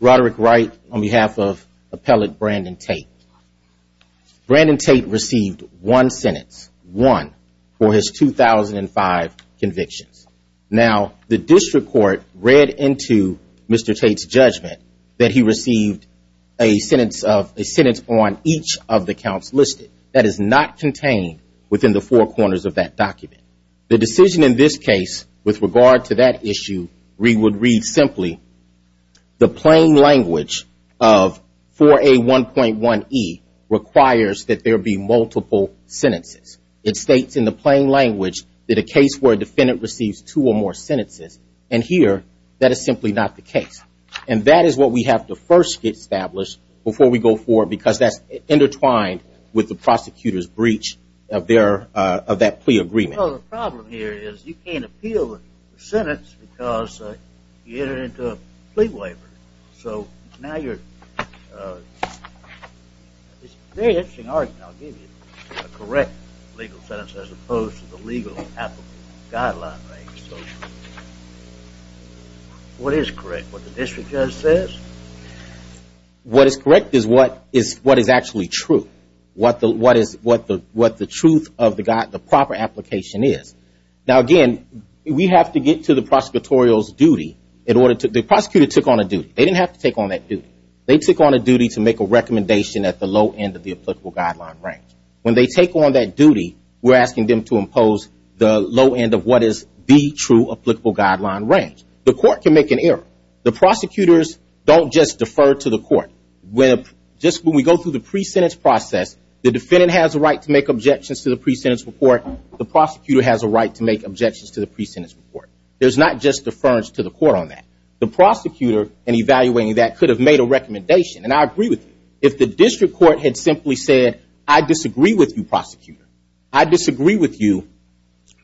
Roderick Wright on behalf of appellate Brandon Tate. Brandon Tate received one sentence, one, for his 2005 convictions. Now, the district court read into Mr. Tate's judgment that he received a sentence on each of the counts listed. That is not contained within the four corners of that document. The decision in this case, with regard to that issue, we would read as follows. It reads simply, the plain language of 4A1.1E requires that there be multiple sentences. It states in the plain language that a case where a defendant receives two or more sentences. And here, that is simply not the case. And that is what we have to first establish before we go forward because that's intertwined with the prosecutor's breach of that plea agreement. Well, the problem here is you can't appeal the sentence because you entered into a plea waiver. So, now you're, it's a very interesting argument. I'll give you a correct legal sentence as opposed to the legal applicable guideline. What is correct? What the district judge says? What is correct is what is actually true. What the truth of the proper application is. Now, again, we have to get to the prosecutorial's duty in order to, the prosecutor took on a duty. They didn't have to take on that duty. They took on a duty to make a recommendation at the low end of the applicable guideline range. When they take on that duty, we're asking them to impose the low end of what is the true applicable guideline range. The court can make an error. The prosecutors don't just defer to the court. Just when we go through the pre-sentence process, the defendant has a right to make objections to the pre-sentence report. The prosecutor has a right to make objections to the pre-sentence report. There's not just deference to the court on that. The prosecutor, in evaluating that, could have made a recommendation. And I agree with you. If the district court had simply said, I disagree with you, prosecutor. I disagree with you.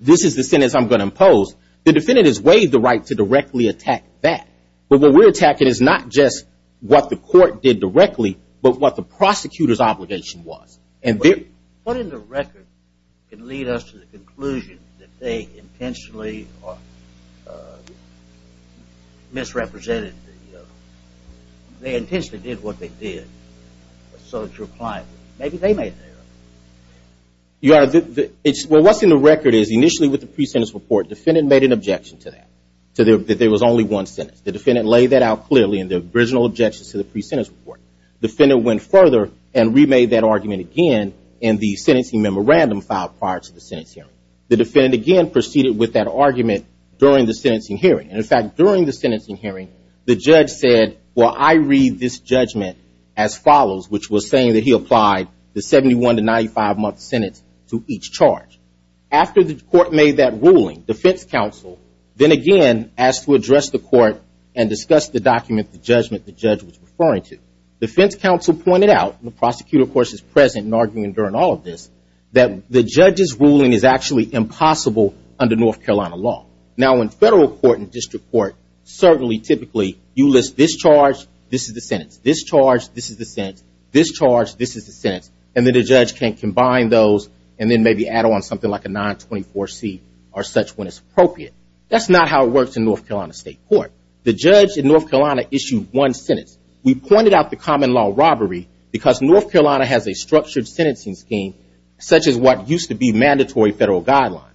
This is the sentence I'm going to impose. The defendant has waived the right to directly attack that. But what we're attacking is not just what the court did directly, but what the prosecutor's obligation was. What in the record can lead us to the conclusion that they intentionally misrepresented? They intentionally did what they did. Maybe they made the error. What's in the record is, initially with the pre-sentence report, the defendant made an objection to that. That there was only one sentence. The defendant laid that out clearly in the original objections to the pre-sentence report. The defendant went further and remade that argument again in the sentencing memorandum filed prior to the sentencing hearing. The defendant again proceeded with that argument during the sentencing hearing. And in fact, during the sentencing hearing, the judge said, well, I read this judgment as follows, which was saying that he applied the 71 to 95 month sentence to each charge. After the court made that ruling, defense counsel then again asked to address the court and discuss the document, the judgment the judge was referring to. Defense counsel pointed out, and the prosecutor, of course, is present in arguing during all of this, that the judge's ruling is actually impossible under North Carolina law. Now, in federal court and district court, certainly, typically, you list this charge, this is the sentence, this charge, this is the sentence, this charge, this is the sentence, and then the judge can combine those and then maybe add on something like a 924C or such when it's appropriate. That's not how it works in North Carolina state court. The judge in North Carolina issued one sentence. We pointed out the common law robbery because North Carolina has a structured sentencing scheme such as what used to be mandatory federal guidelines.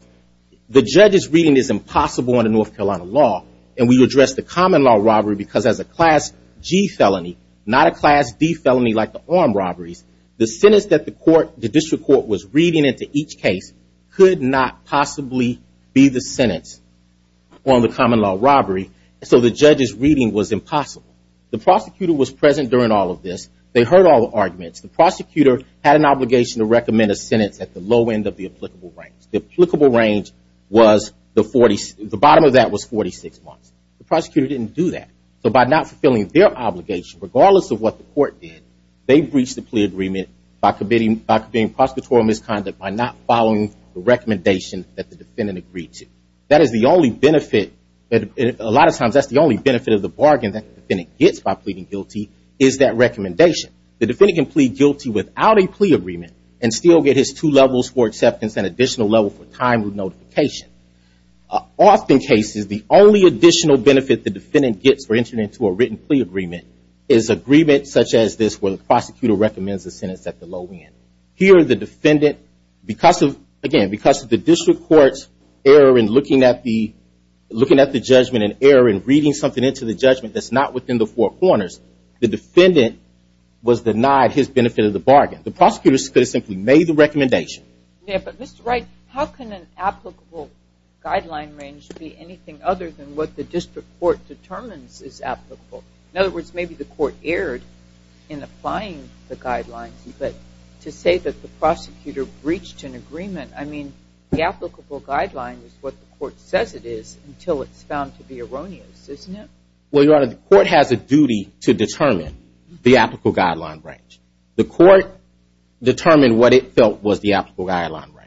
The judge's reading is impossible under North Carolina law, and we addressed the common law robbery because as a Class G felony, not a Class D felony like the armed robberies, the sentence that the court, the district court, was reading into each case could not possibly be the sentence on the common law robbery. So the judge's reading was impossible. The prosecutor was present during all of this. They heard all the arguments. The prosecutor had an obligation to recommend a sentence at the low end of the applicable range. The applicable range was the bottom of that was 46 months. The prosecutor didn't do that. So by not fulfilling their obligation, regardless of what the court did, they breached the plea agreement by committing prosecutorial misconduct by not following the recommendation that the defendant agreed to. That is the only benefit. A lot of times that's the only benefit of the bargain that the defendant gets by pleading guilty is that recommendation. The defendant can plead guilty without a plea agreement and still get his two levels for acceptance and additional level for time of notification. Often cases, the only additional benefit the defendant gets for entering into a written plea agreement is agreements such as this where the prosecutor recommends a sentence at the low end. Here the defendant, again, because of the district court's error in looking at the judgment and error in reading something into the judgment that's not within the four corners, the defendant was denied his benefit of the bargain. The prosecutor could have simply made the recommendation. Yeah, but Mr. Wright, how can an applicable guideline range be anything other than what the district court determines is applicable? In other words, maybe the court erred in applying the guidelines, but to say that the prosecutor breached an agreement, I mean, the applicable guideline is what the court says it is until it's found to be erroneous, isn't it? Well, Your Honor, the court has a duty to determine the applicable guideline range. The court determined what it felt was the applicable guideline range.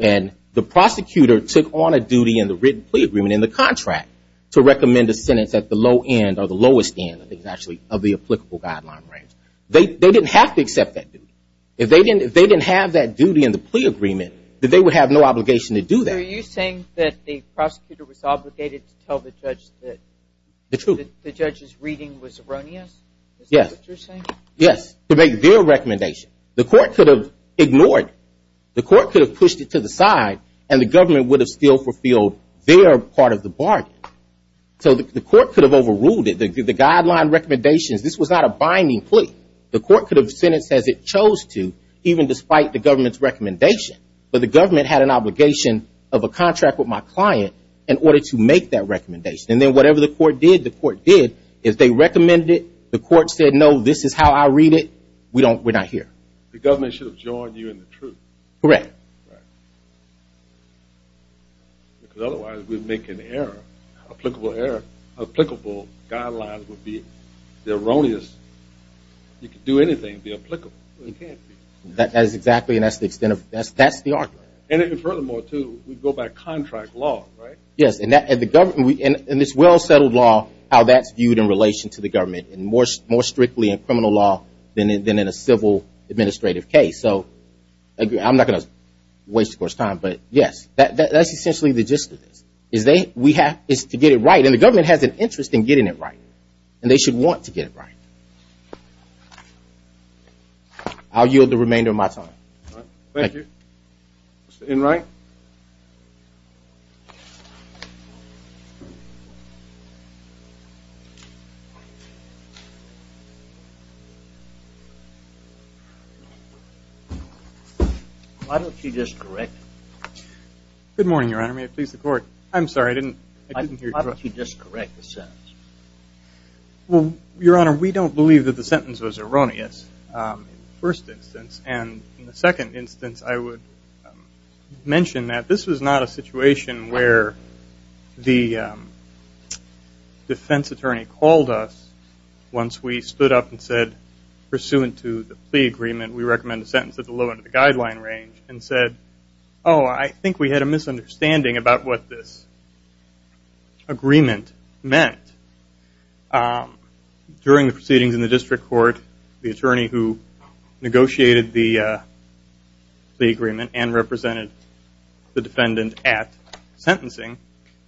And the prosecutor took on a duty in the written plea agreement in the contract to recommend a sentence at the low end or the lowest end, I think, actually, of the applicable guideline range. They didn't have to accept that duty. If they didn't have that duty in the plea agreement, then they would have no obligation to do that. So are you saying that the prosecutor was obligated to tell the judge that the judge's reading was erroneous? Yes. Is that what you're saying? Yes, to make their recommendation. The court could have ignored it. The court could have pushed it to the side, and the government would have still fulfilled their part of the bargain. So the court could have overruled it. The guideline recommendations, this was not a binding plea. The court could have sentenced as it chose to, even despite the government's recommendation. But the government had an obligation of a contract with my client in order to make that recommendation. And then whatever the court did, the court did. If they recommended it, the court said, no, this is how I read it. We're not here. The government should have joined you in the truth. Correct. Right. Because otherwise we'd make an error, applicable error. Applicable guidelines would be erroneous. You could do anything to be applicable. That is exactly, and that's the extent of, that's the argument. And furthermore, too, we go by contract law, right? Yes, and this well-settled law, how that's viewed in relation to the government, and more strictly in criminal law than in a civil administrative case. So I'm not going to waste the court's time, but, yes, that's essentially the gist of this. We have to get it right, and the government has an interest in getting it right, and they should want to get it right. I'll yield the remainder of my time. Thank you. Mr. Enright? Why don't you just correct me? Good morning, Your Honor. May it please the Court. I'm sorry. I didn't hear you. Why don't you just correct the sentence? Well, Your Honor, we don't believe that the sentence was erroneous in the first instance, and in the second instance I would mention that the sentence was erroneous. I would mention that this was not a situation where the defense attorney called us once we stood up and said, pursuant to the plea agreement, we recommend a sentence at the low end of the guideline range, and said, oh, I think we had a misunderstanding about what this agreement meant. During the proceedings in the district court, the attorney who negotiated the plea agreement and represented the defendant at sentencing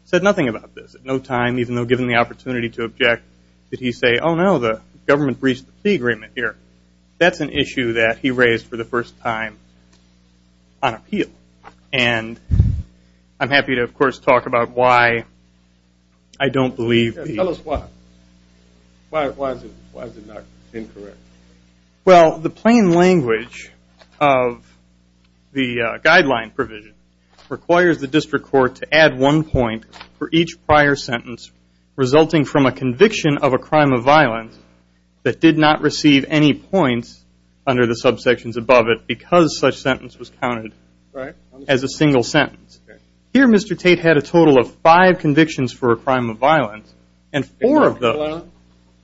said nothing about this. At no time, even though given the opportunity to object, did he say, oh, no, the government breached the plea agreement here. That's an issue that he raised for the first time on appeal, and I'm happy to, of course, talk about why I don't believe he did. Tell us why. Why is it not incorrect? Well, the plain language of the guideline provision requires the district court to add one point for each prior sentence resulting from a conviction of a crime of violence that did not receive any points under the subsections above it because such sentence was counted as a single sentence. Here Mr. Tate had a total of five convictions for a crime of violence, and four of those. In North Carolina?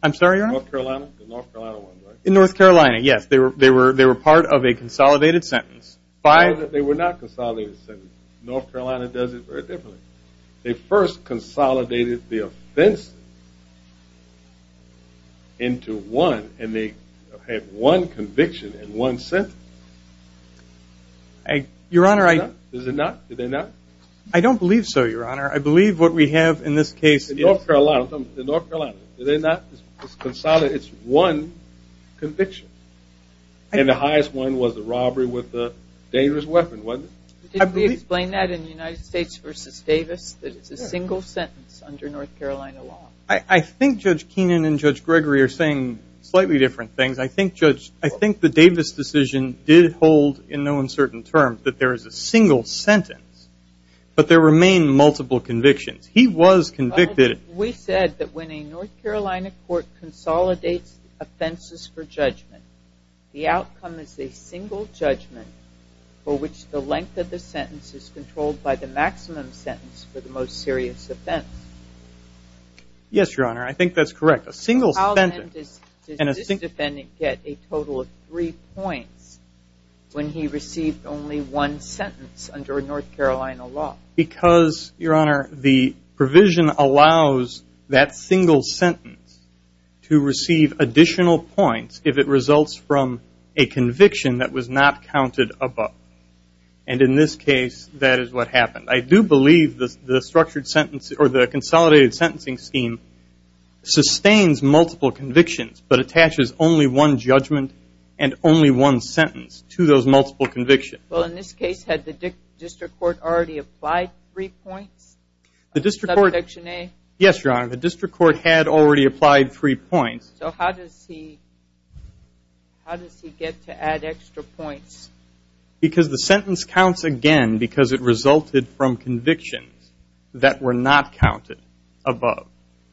I'm sorry, Your Honor? In North Carolina? The North Carolina one, right? In North Carolina, yes. They were part of a consolidated sentence. Five that they were not consolidated sentences. North Carolina does it very differently. They first consolidated the offense into one, and they had one conviction and one sentence. Your Honor, I don't believe so, Your Honor. I believe what we have in this case is North Carolina, they're not consolidated, it's one conviction. And the highest one was the robbery with the dangerous weapon, wasn't it? Did we explain that in United States v. Davis that it's a single sentence under North Carolina law? I think Judge Keenan and Judge Gregory are saying slightly different things. I think the Davis decision did hold in no uncertain terms that there is a single sentence, but there remain multiple convictions. He was convicted. We said that when a North Carolina court consolidates offenses for judgment, the outcome is a single judgment for which the length of the sentence is controlled by the maximum sentence for the most serious offense. Yes, Your Honor, I think that's correct. A single sentence. How then does this defendant get a total of three points when he received only one sentence under North Carolina law? Because, Your Honor, the provision allows that single sentence to receive additional points if it results from a conviction that was not counted above. And in this case, that is what happened. I do believe the consolidated sentencing scheme sustains multiple convictions but attaches only one judgment and only one sentence to those multiple convictions. Well, in this case, had the district court already applied three points? Yes, Your Honor, the district court had already applied three points. So how does he get to add extra points? Because the sentence counts again because it resulted from convictions that were not counted above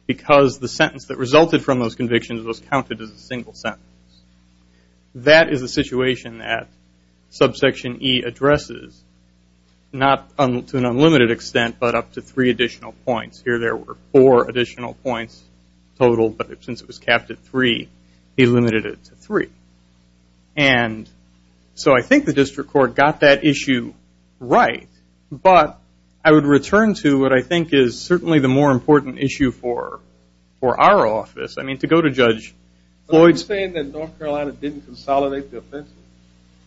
because the sentence that resulted from those convictions was counted as a single sentence. That is a situation that Subsection E addresses, not to an unlimited extent, but up to three additional points. Here there were four additional points total, but since it was capped at three, he limited it to three. And so I think the district court got that issue right, but I would return to what I think is certainly the more important issue for our office. I mean, to go to Judge Floyd's. Are you saying that North Carolina didn't consolidate the offenses?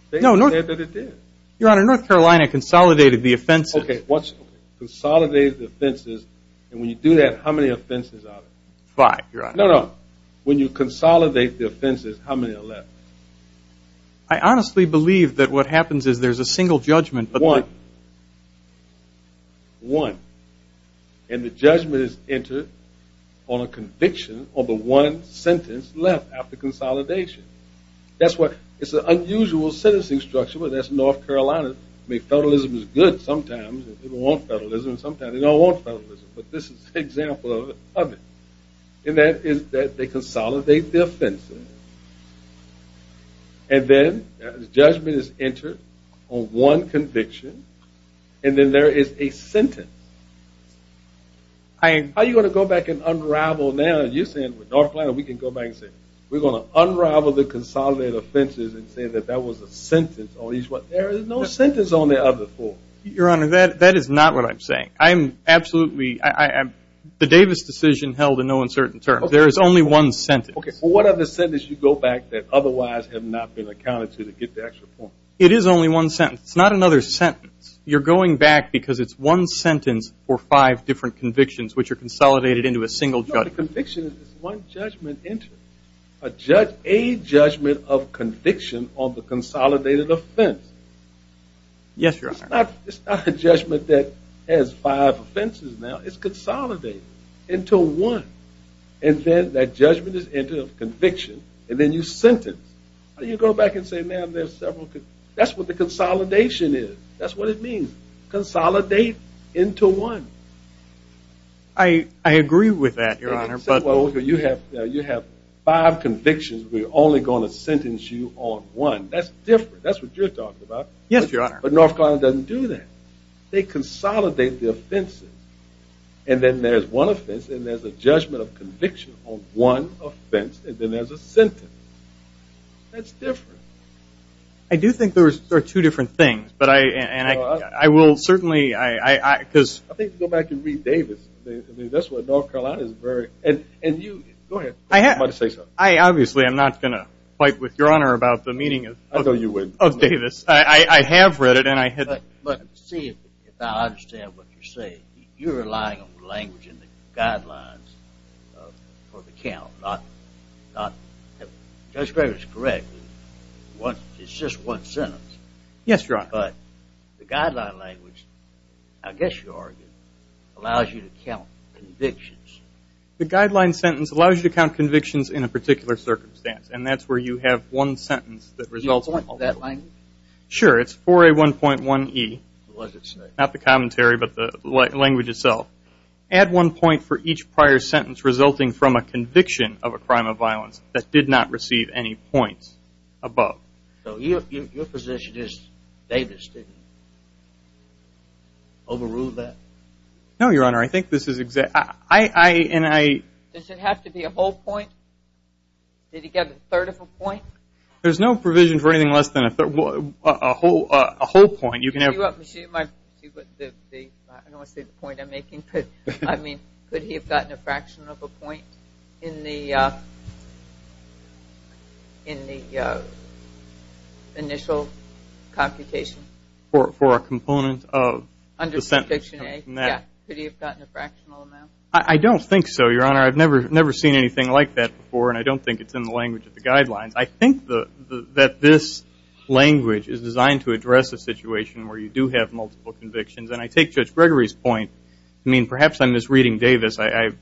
They said that it did. Your Honor, North Carolina consolidated the offenses. Okay, what's consolidated the offenses? And when you do that, how many offenses are there? Five, Your Honor. No, no. When you consolidate the offenses, how many are left? I honestly believe that what happens is there's a single judgment. One. One. And the judgment is entered on a conviction on the one sentence left after consolidation. That's why it's an unusual sentencing structure, but that's North Carolina. I mean, federalism is good sometimes. People want federalism sometimes. They don't want federalism, but this is an example of it. And that is that they consolidate the offenses, and then the judgment is entered on one conviction, and then there is a sentence. How are you going to go back and unravel now? You're saying with North Carolina, we can go back and say, we're going to unravel the consolidated offenses and say that that was a sentence. There is no sentence on the other four. Your Honor, that is not what I'm saying. Absolutely, the Davis decision held in no uncertain terms. There is only one sentence. Okay, well, what other sentences do you go back that otherwise have not been accounted to to get the extra point? It is only one sentence. It's not another sentence. You're going back because it's one sentence for five different convictions, which are consolidated into a single judgment. No, the conviction is one judgment entered. A judgment of conviction on the consolidated offense. Yes, Your Honor. It's not a judgment that has five offenses now. It's consolidated into one. And then that judgment is entered of conviction, and then you sentence. You go back and say, man, there's several. That's what the consolidation is. That's what it means. Consolidate into one. I agree with that, Your Honor. You have five convictions. We're only going to sentence you on one. That's different. That's what you're talking about. Yes, Your Honor. But North Carolina doesn't do that. They consolidate the offenses. And then there's one offense, and there's a judgment of conviction on one offense, and then there's a sentence. That's different. I do think there are two different things. And I will certainly – I think if you go back and read Davis, that's what North Carolina is very – and you – go ahead. I obviously am not going to fight with Your Honor about the meaning of Davis. I have read it, and I – But see, if I understand what you're saying, you're relying on language in the guidelines for the count, not – Judge Gregory is correct. It's just one sentence. Yes, Your Honor. But the guideline language, I guess you argue, allows you to count convictions. The guideline sentence allows you to count convictions in a particular circumstance, and that's where you have one sentence that results in – Do you want that language? Sure. It's 4A1.1E. What does it say? Not the commentary, but the language itself. Add one point for each prior sentence resulting from a conviction of a crime of violence that did not receive any points above. So your position is Davis didn't overrule that? No, Your Honor. I think this is – Does it have to be a whole point? Did he get a third of a point? There's no provision for anything less than a whole point. I don't want to say the point I'm making, but, I mean, could he have gotten a fraction of a point in the initial computation? For a component of the sentence? Could he have gotten a fractional amount? I don't think so, Your Honor. I've never seen anything like that before, I think that this language is designed to address a situation where you do have multiple convictions, and I take Judge Gregory's point. I mean, perhaps I'm misreading Davis. I've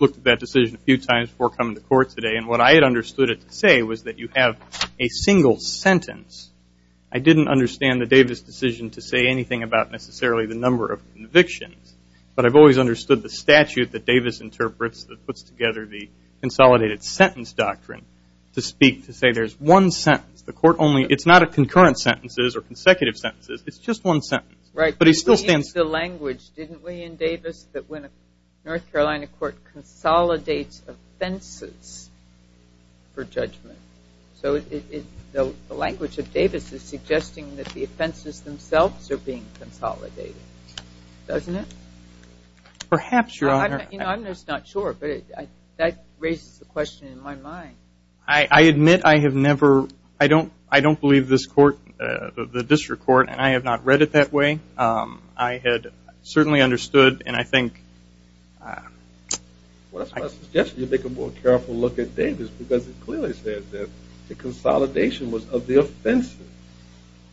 looked at that decision a few times before coming to court today, and what I had understood it to say was that you have a single sentence. I didn't understand the Davis decision to say anything about necessarily the number of convictions, but I've always understood the statute that Davis interprets that puts together the consolidated sentence doctrine to speak to say there's one sentence. It's not a concurrent sentences or consecutive sentences. It's just one sentence. But he still stands. He used the language, didn't we, in Davis, that when a North Carolina court consolidates offenses for judgment. So the language of Davis is suggesting that the offenses themselves are being consolidated, doesn't it? Perhaps, Your Honor. I'm just not sure, but that raises the question in my mind. I admit I have never – I don't believe this court, the district court, and I have not read it that way. I had certainly understood, and I think – Well, I suggest you take a more careful look at Davis, because it clearly says that the consolidation was of the offenses.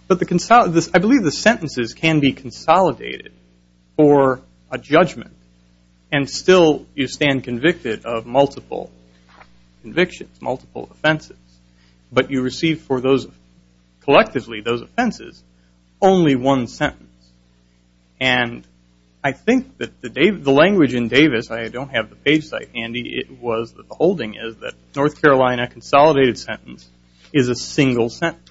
But the – I believe the sentences can be consolidated for a judgment, and still you stand convicted of multiple convictions, multiple offenses. But you receive for those – collectively, those offenses, only one sentence. And I think that the language in Davis – I don't have the page site handy. The holding is that North Carolina consolidated sentence is a single sentence.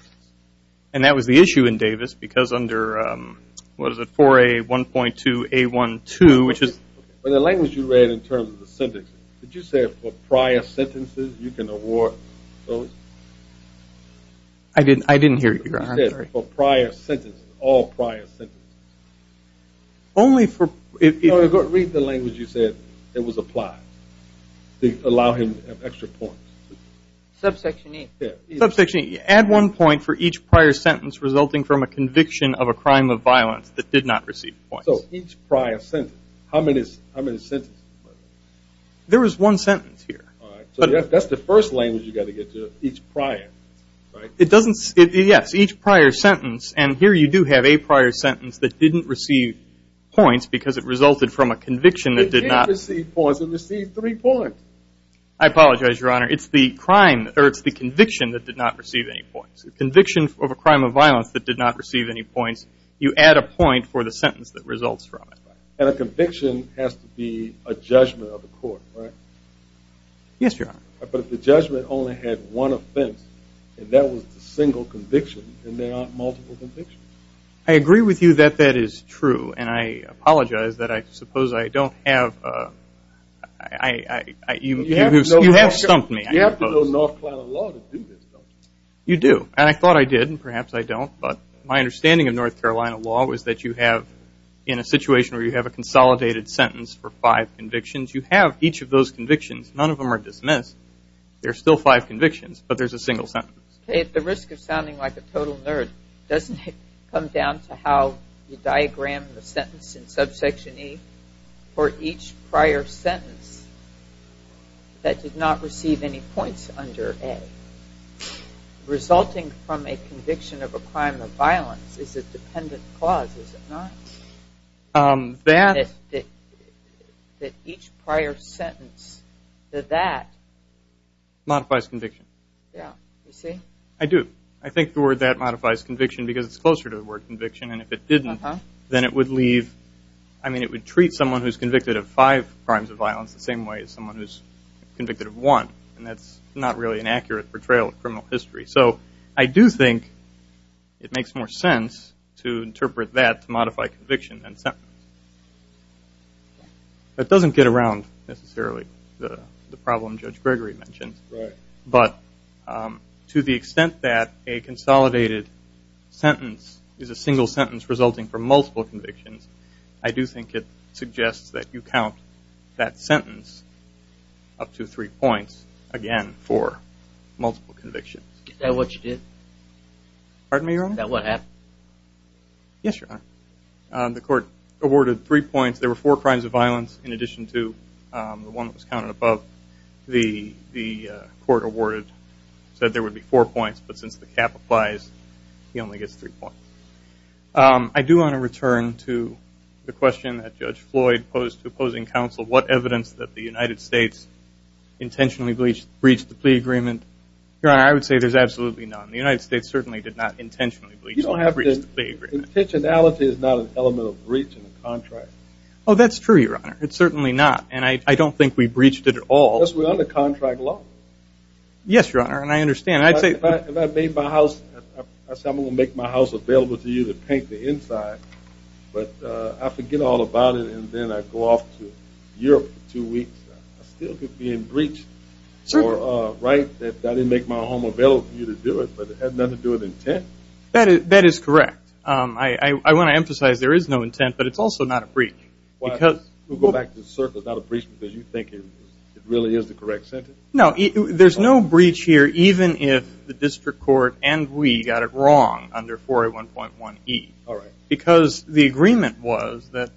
And that was the issue in Davis, because under – what is it? 4A1.2A12, which is – But the language you read in terms of the sentences, did you say for prior sentences you can award those? I didn't hear you, Your Honor. You said for prior sentences, all prior sentences. Only for – Read the language you said that was applied to allow him extra points. Subsection 8. Subsection 8. Add one point for each prior sentence resulting from a conviction of a crime of violence that did not receive points. So each prior sentence. How many sentences? There was one sentence here. All right. So that's the first language you've got to get to, each prior. It doesn't – yes, each prior sentence. And here you do have a prior sentence that didn't receive points because it resulted from a conviction that did not – It did receive points. It received three points. I apologize, Your Honor. It's the crime – or it's the conviction that did not receive any points. The conviction of a crime of violence that did not receive any points, you add a point for the sentence that results from it. And a conviction has to be a judgment of the court, right? Yes, Your Honor. But if the judgment only had one offense and that was the single conviction, then there aren't multiple convictions. I agree with you that that is true. And I apologize that I suppose I don't have – you have stumped me. You have to know North Carolina law to do this, don't you? You do. And I thought I did, and perhaps I don't. But my understanding of North Carolina law was that you have, in a situation where you have a consolidated sentence for five convictions, you have each of those convictions. None of them are dismissed. There are still five convictions, but there's a single sentence. At the risk of sounding like a total nerd, doesn't it come down to how you diagram the sentence in subsection E for each prior sentence that did not receive any points under A? Resulting from a conviction of a crime of violence is a dependent clause, is it not? That – That each prior sentence to that – Modifies conviction. Yeah. You see? I do. I think the word that modifies conviction because it's closer to the word conviction, and if it didn't, then it would leave – I mean it would treat someone who's convicted of five crimes of violence the same way as someone who's convicted of one, and that's not really an accurate portrayal of criminal history. So I do think it makes more sense to interpret that to modify conviction than sentence. That doesn't get around necessarily the problem Judge Gregory mentioned. Right. But to the extent that a consolidated sentence is a single sentence resulting from multiple convictions, I do think it suggests that you count that sentence up to three points, again, for multiple convictions. Is that what you did? Pardon me, Your Honor? Is that what happened? Yes, Your Honor. The court awarded three points. There were four crimes of violence in addition to the one that was counted above the court awarded. It said there would be four points, but since the cap applies, he only gets three points. I do want to return to the question that Judge Floyd posed to opposing counsel, what evidence that the United States intentionally breached the plea agreement. Your Honor, I would say there's absolutely none. The United States certainly did not intentionally breach the plea agreement. Intentionality is not an element of breach in the contract. Oh, that's true, Your Honor. It's certainly not. And I don't think we breached it at all. Yes, we're under contract law. Yes, Your Honor, and I understand. If I made my house, I said I'm going to make my house available to you to paint the inside, but I forget all about it and then I go off to Europe for two weeks. I still could be in breach. I didn't make my home available for you to do it, but it had nothing to do with intent. That is correct. I want to emphasize there is no intent, but it's also not a breach. We'll go back to the surface, not a breach, because you think it really is the correct sentence? No, there's no breach here, even if the district court and we got it wrong under 4A1.1e. All right. Because the agreement was that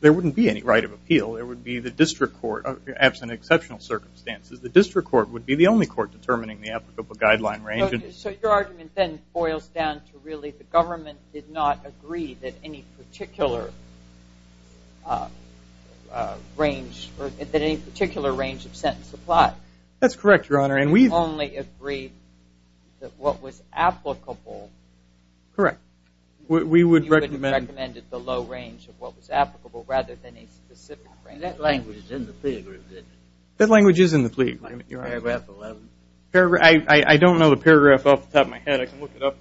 there wouldn't be any right of appeal. It would be the district court, absent exceptional circumstances, the district court would be the only court determining the applicable guideline. So your argument then boils down to really the government did not agree that any particular range of sentence applied. That's correct, Your Honor. And we've only agreed that what was applicable. Correct. We would recommend the low range of what was applicable rather than a specific range. That language is in the plea agreement. That language is in the plea agreement, Your Honor. Paragraph 11. I don't know the paragraph off the top of my head. I can look it up.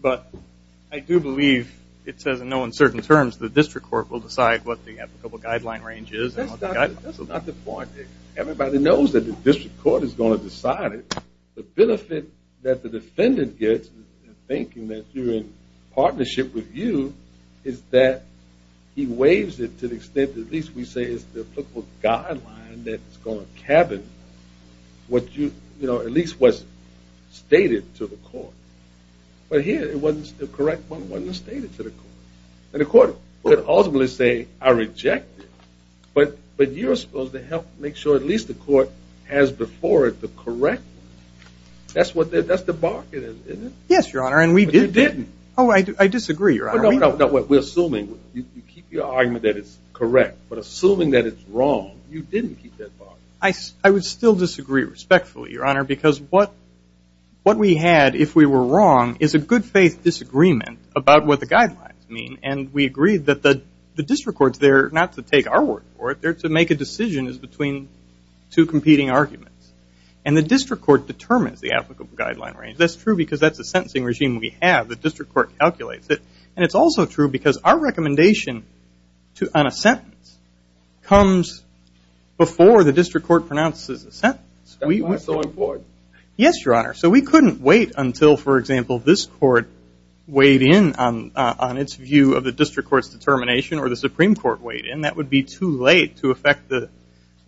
But I do believe it says, in no uncertain terms, the district court will decide what the applicable guideline range is. That's not the point. Everybody knows that the district court is going to decide it. The benefit that the defendant gets in thinking that you're in partnership with you is that he waives it to the extent that at least we say it's the applicable guideline that's going to cabin what at least was stated to the court. But here it wasn't the correct one. It wasn't stated to the court. And the court would ultimately say, I reject it. But you're supposed to help make sure at least the court has before it the correct one. That's the bargain, isn't it? Yes, Your Honor, and we did. But you didn't. Oh, I disagree, Your Honor. No, no, no. We're assuming. You keep your argument that it's correct. But assuming that it's wrong, you didn't keep that bargain. I would still disagree respectfully, Your Honor, because what we had, if we were wrong, is a good-faith disagreement about what the guidelines mean. And we agreed that the district court's there not to take our word for it. They're to make a decision as between two competing arguments. And the district court determines the applicable guideline range. That's true because that's the sentencing regime we have. The district court calculates it. And it's also true because our recommendation on a sentence comes before the district court pronounces the sentence. Why so important? Yes, Your Honor. So we couldn't wait until, for example, this court weighed in on its view of the district court's determination or the Supreme Court weighed in. That would be too late to affect the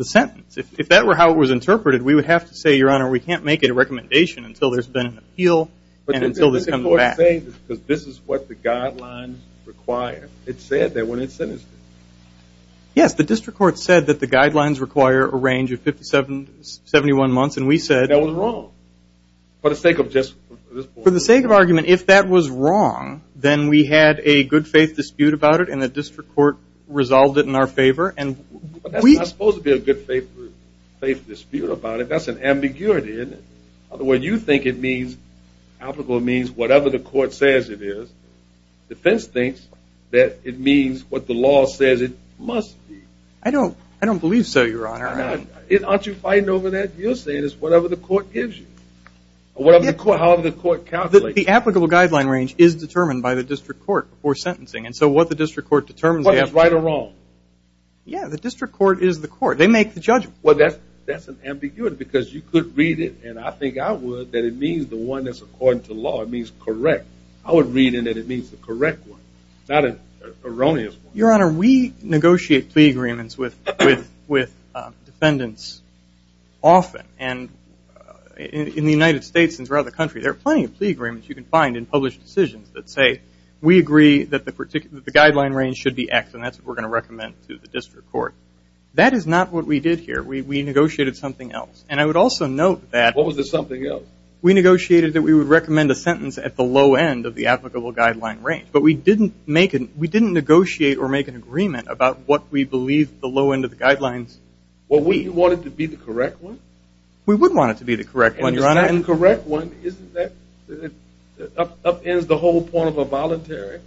sentence. If that were how it was interpreted, we would have to say, Your Honor, we can't make it a recommendation until there's been an appeal and until this comes back. I'm saying this because this is what the guidelines require. It said that when it sentenced it. Yes, the district court said that the guidelines require a range of 57, 71 months, and we said that was wrong. For the sake of just this point. For the sake of argument, if that was wrong, then we had a good-faith dispute about it, and the district court resolved it in our favor. That's not supposed to be a good-faith dispute about it. That's an ambiguity, isn't it? In other words, you think it means, applicable means whatever the court says it is. Defense thinks that it means what the law says it must be. I don't believe so, Your Honor. Aren't you fighting over that? You're saying it's whatever the court gives you. Or however the court calculates it. The applicable guideline range is determined by the district court before sentencing, and so what the district court determines is. Whether it's right or wrong. Yeah, the district court is the court. They make the judgment. Well, that's an ambiguity because you could read it, and I think I would, that it means the one that's according to law. It means correct. I would read it that it means the correct one, not an erroneous one. Your Honor, we negotiate plea agreements with defendants often, and in the United States and throughout the country, there are plenty of plea agreements you can find in published decisions that say, we agree that the guideline range should be X, and that's what we're going to recommend to the district court. That is not what we did here. We negotiated something else. And I would also note that. What was the something else? We negotiated that we would recommend a sentence at the low end of the applicable guideline range, but we didn't negotiate or make an agreement about what we believe the low end of the guidelines. Well, we wanted to be the correct one? We would want it to be the correct one, Your Honor. And the correct one, isn't that up ends the whole point of a voluntary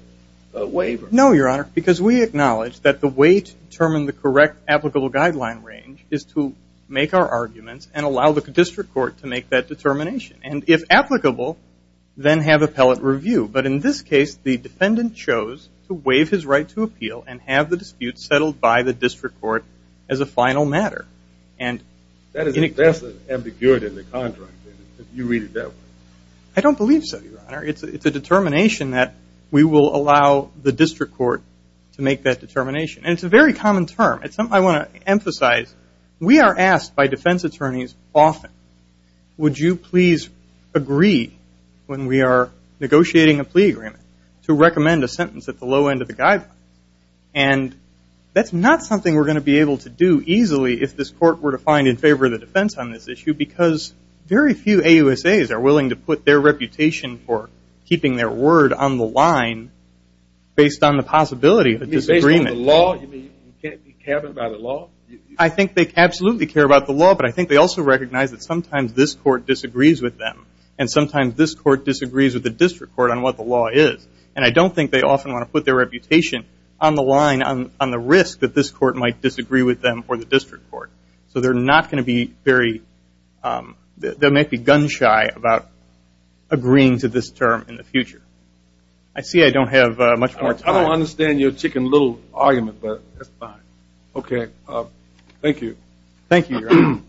waiver? No, Your Honor, because we acknowledge that the way to determine the correct applicable guideline range is to make our arguments and allow the district court to make that determination. And if applicable, then have appellate review. But in this case, the defendant chose to waive his right to appeal and have the dispute settled by the district court as a final matter. That's an ambiguity in the contract. You read it that way. I don't believe so, Your Honor. It's a determination that we will allow the district court to make that determination. And it's a very common term. It's something I want to emphasize. We are asked by defense attorneys often, would you please agree when we are negotiating a plea agreement to recommend a sentence at the low end of the guidelines? And that's not something we're going to be able to do easily if this court were to find in favor of the defense on this issue, because very few AUSAs are willing to put their reputation for keeping their word on the line based on the possibility of a disagreement. You mean based on the law? You mean you can't be cabin by the law? I think they absolutely care about the law, but I think they also recognize that sometimes this court disagrees with them. And sometimes this court disagrees with the district court on what the law is. And I don't think they often want to put their reputation on the line, on the risk that this court might disagree with them or the district court. So they're not going to be very, they might be gun shy about agreeing to this term in the future. I see I don't have much more time. I don't understand your chicken little argument, but that's fine. Okay. Thank you. Thank you, Your Honor.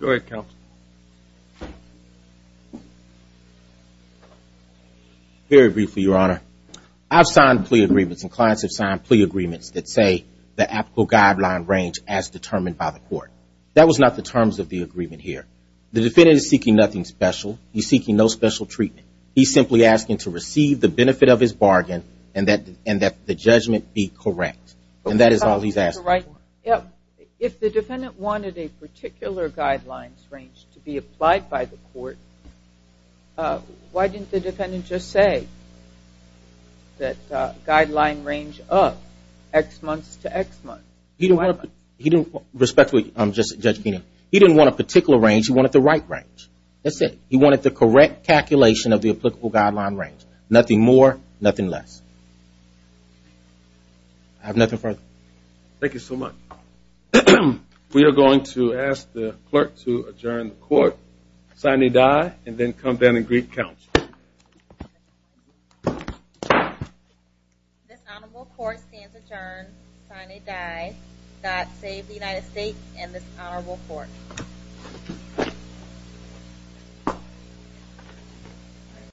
Go ahead, Counsel. Very briefly, Your Honor. I've signed plea agreements and clients have signed plea agreements that say the applicable guideline range as determined by the court. That was not the terms of the agreement here. The defendant is seeking nothing special. He's seeking no special treatment. He's simply asking to receive the benefit of his bargain and that the judgment be correct. And that is all he's asking for. If the defendant wanted a particular guidelines range to be applied by the court, why didn't the defendant just say that guideline range up X months to X months? Respectfully, Judge Keenan, he didn't want a particular range. He wanted the right range. That's it. He wanted the correct calculation of the applicable guideline range. Nothing more, nothing less. I have nothing further. Thank you so much. We are going to ask the clerk to adjourn the court, sign a die, and then come down and greet counsel. This honorable court stands adjourned, sign a die. God save the United States and this honorable court.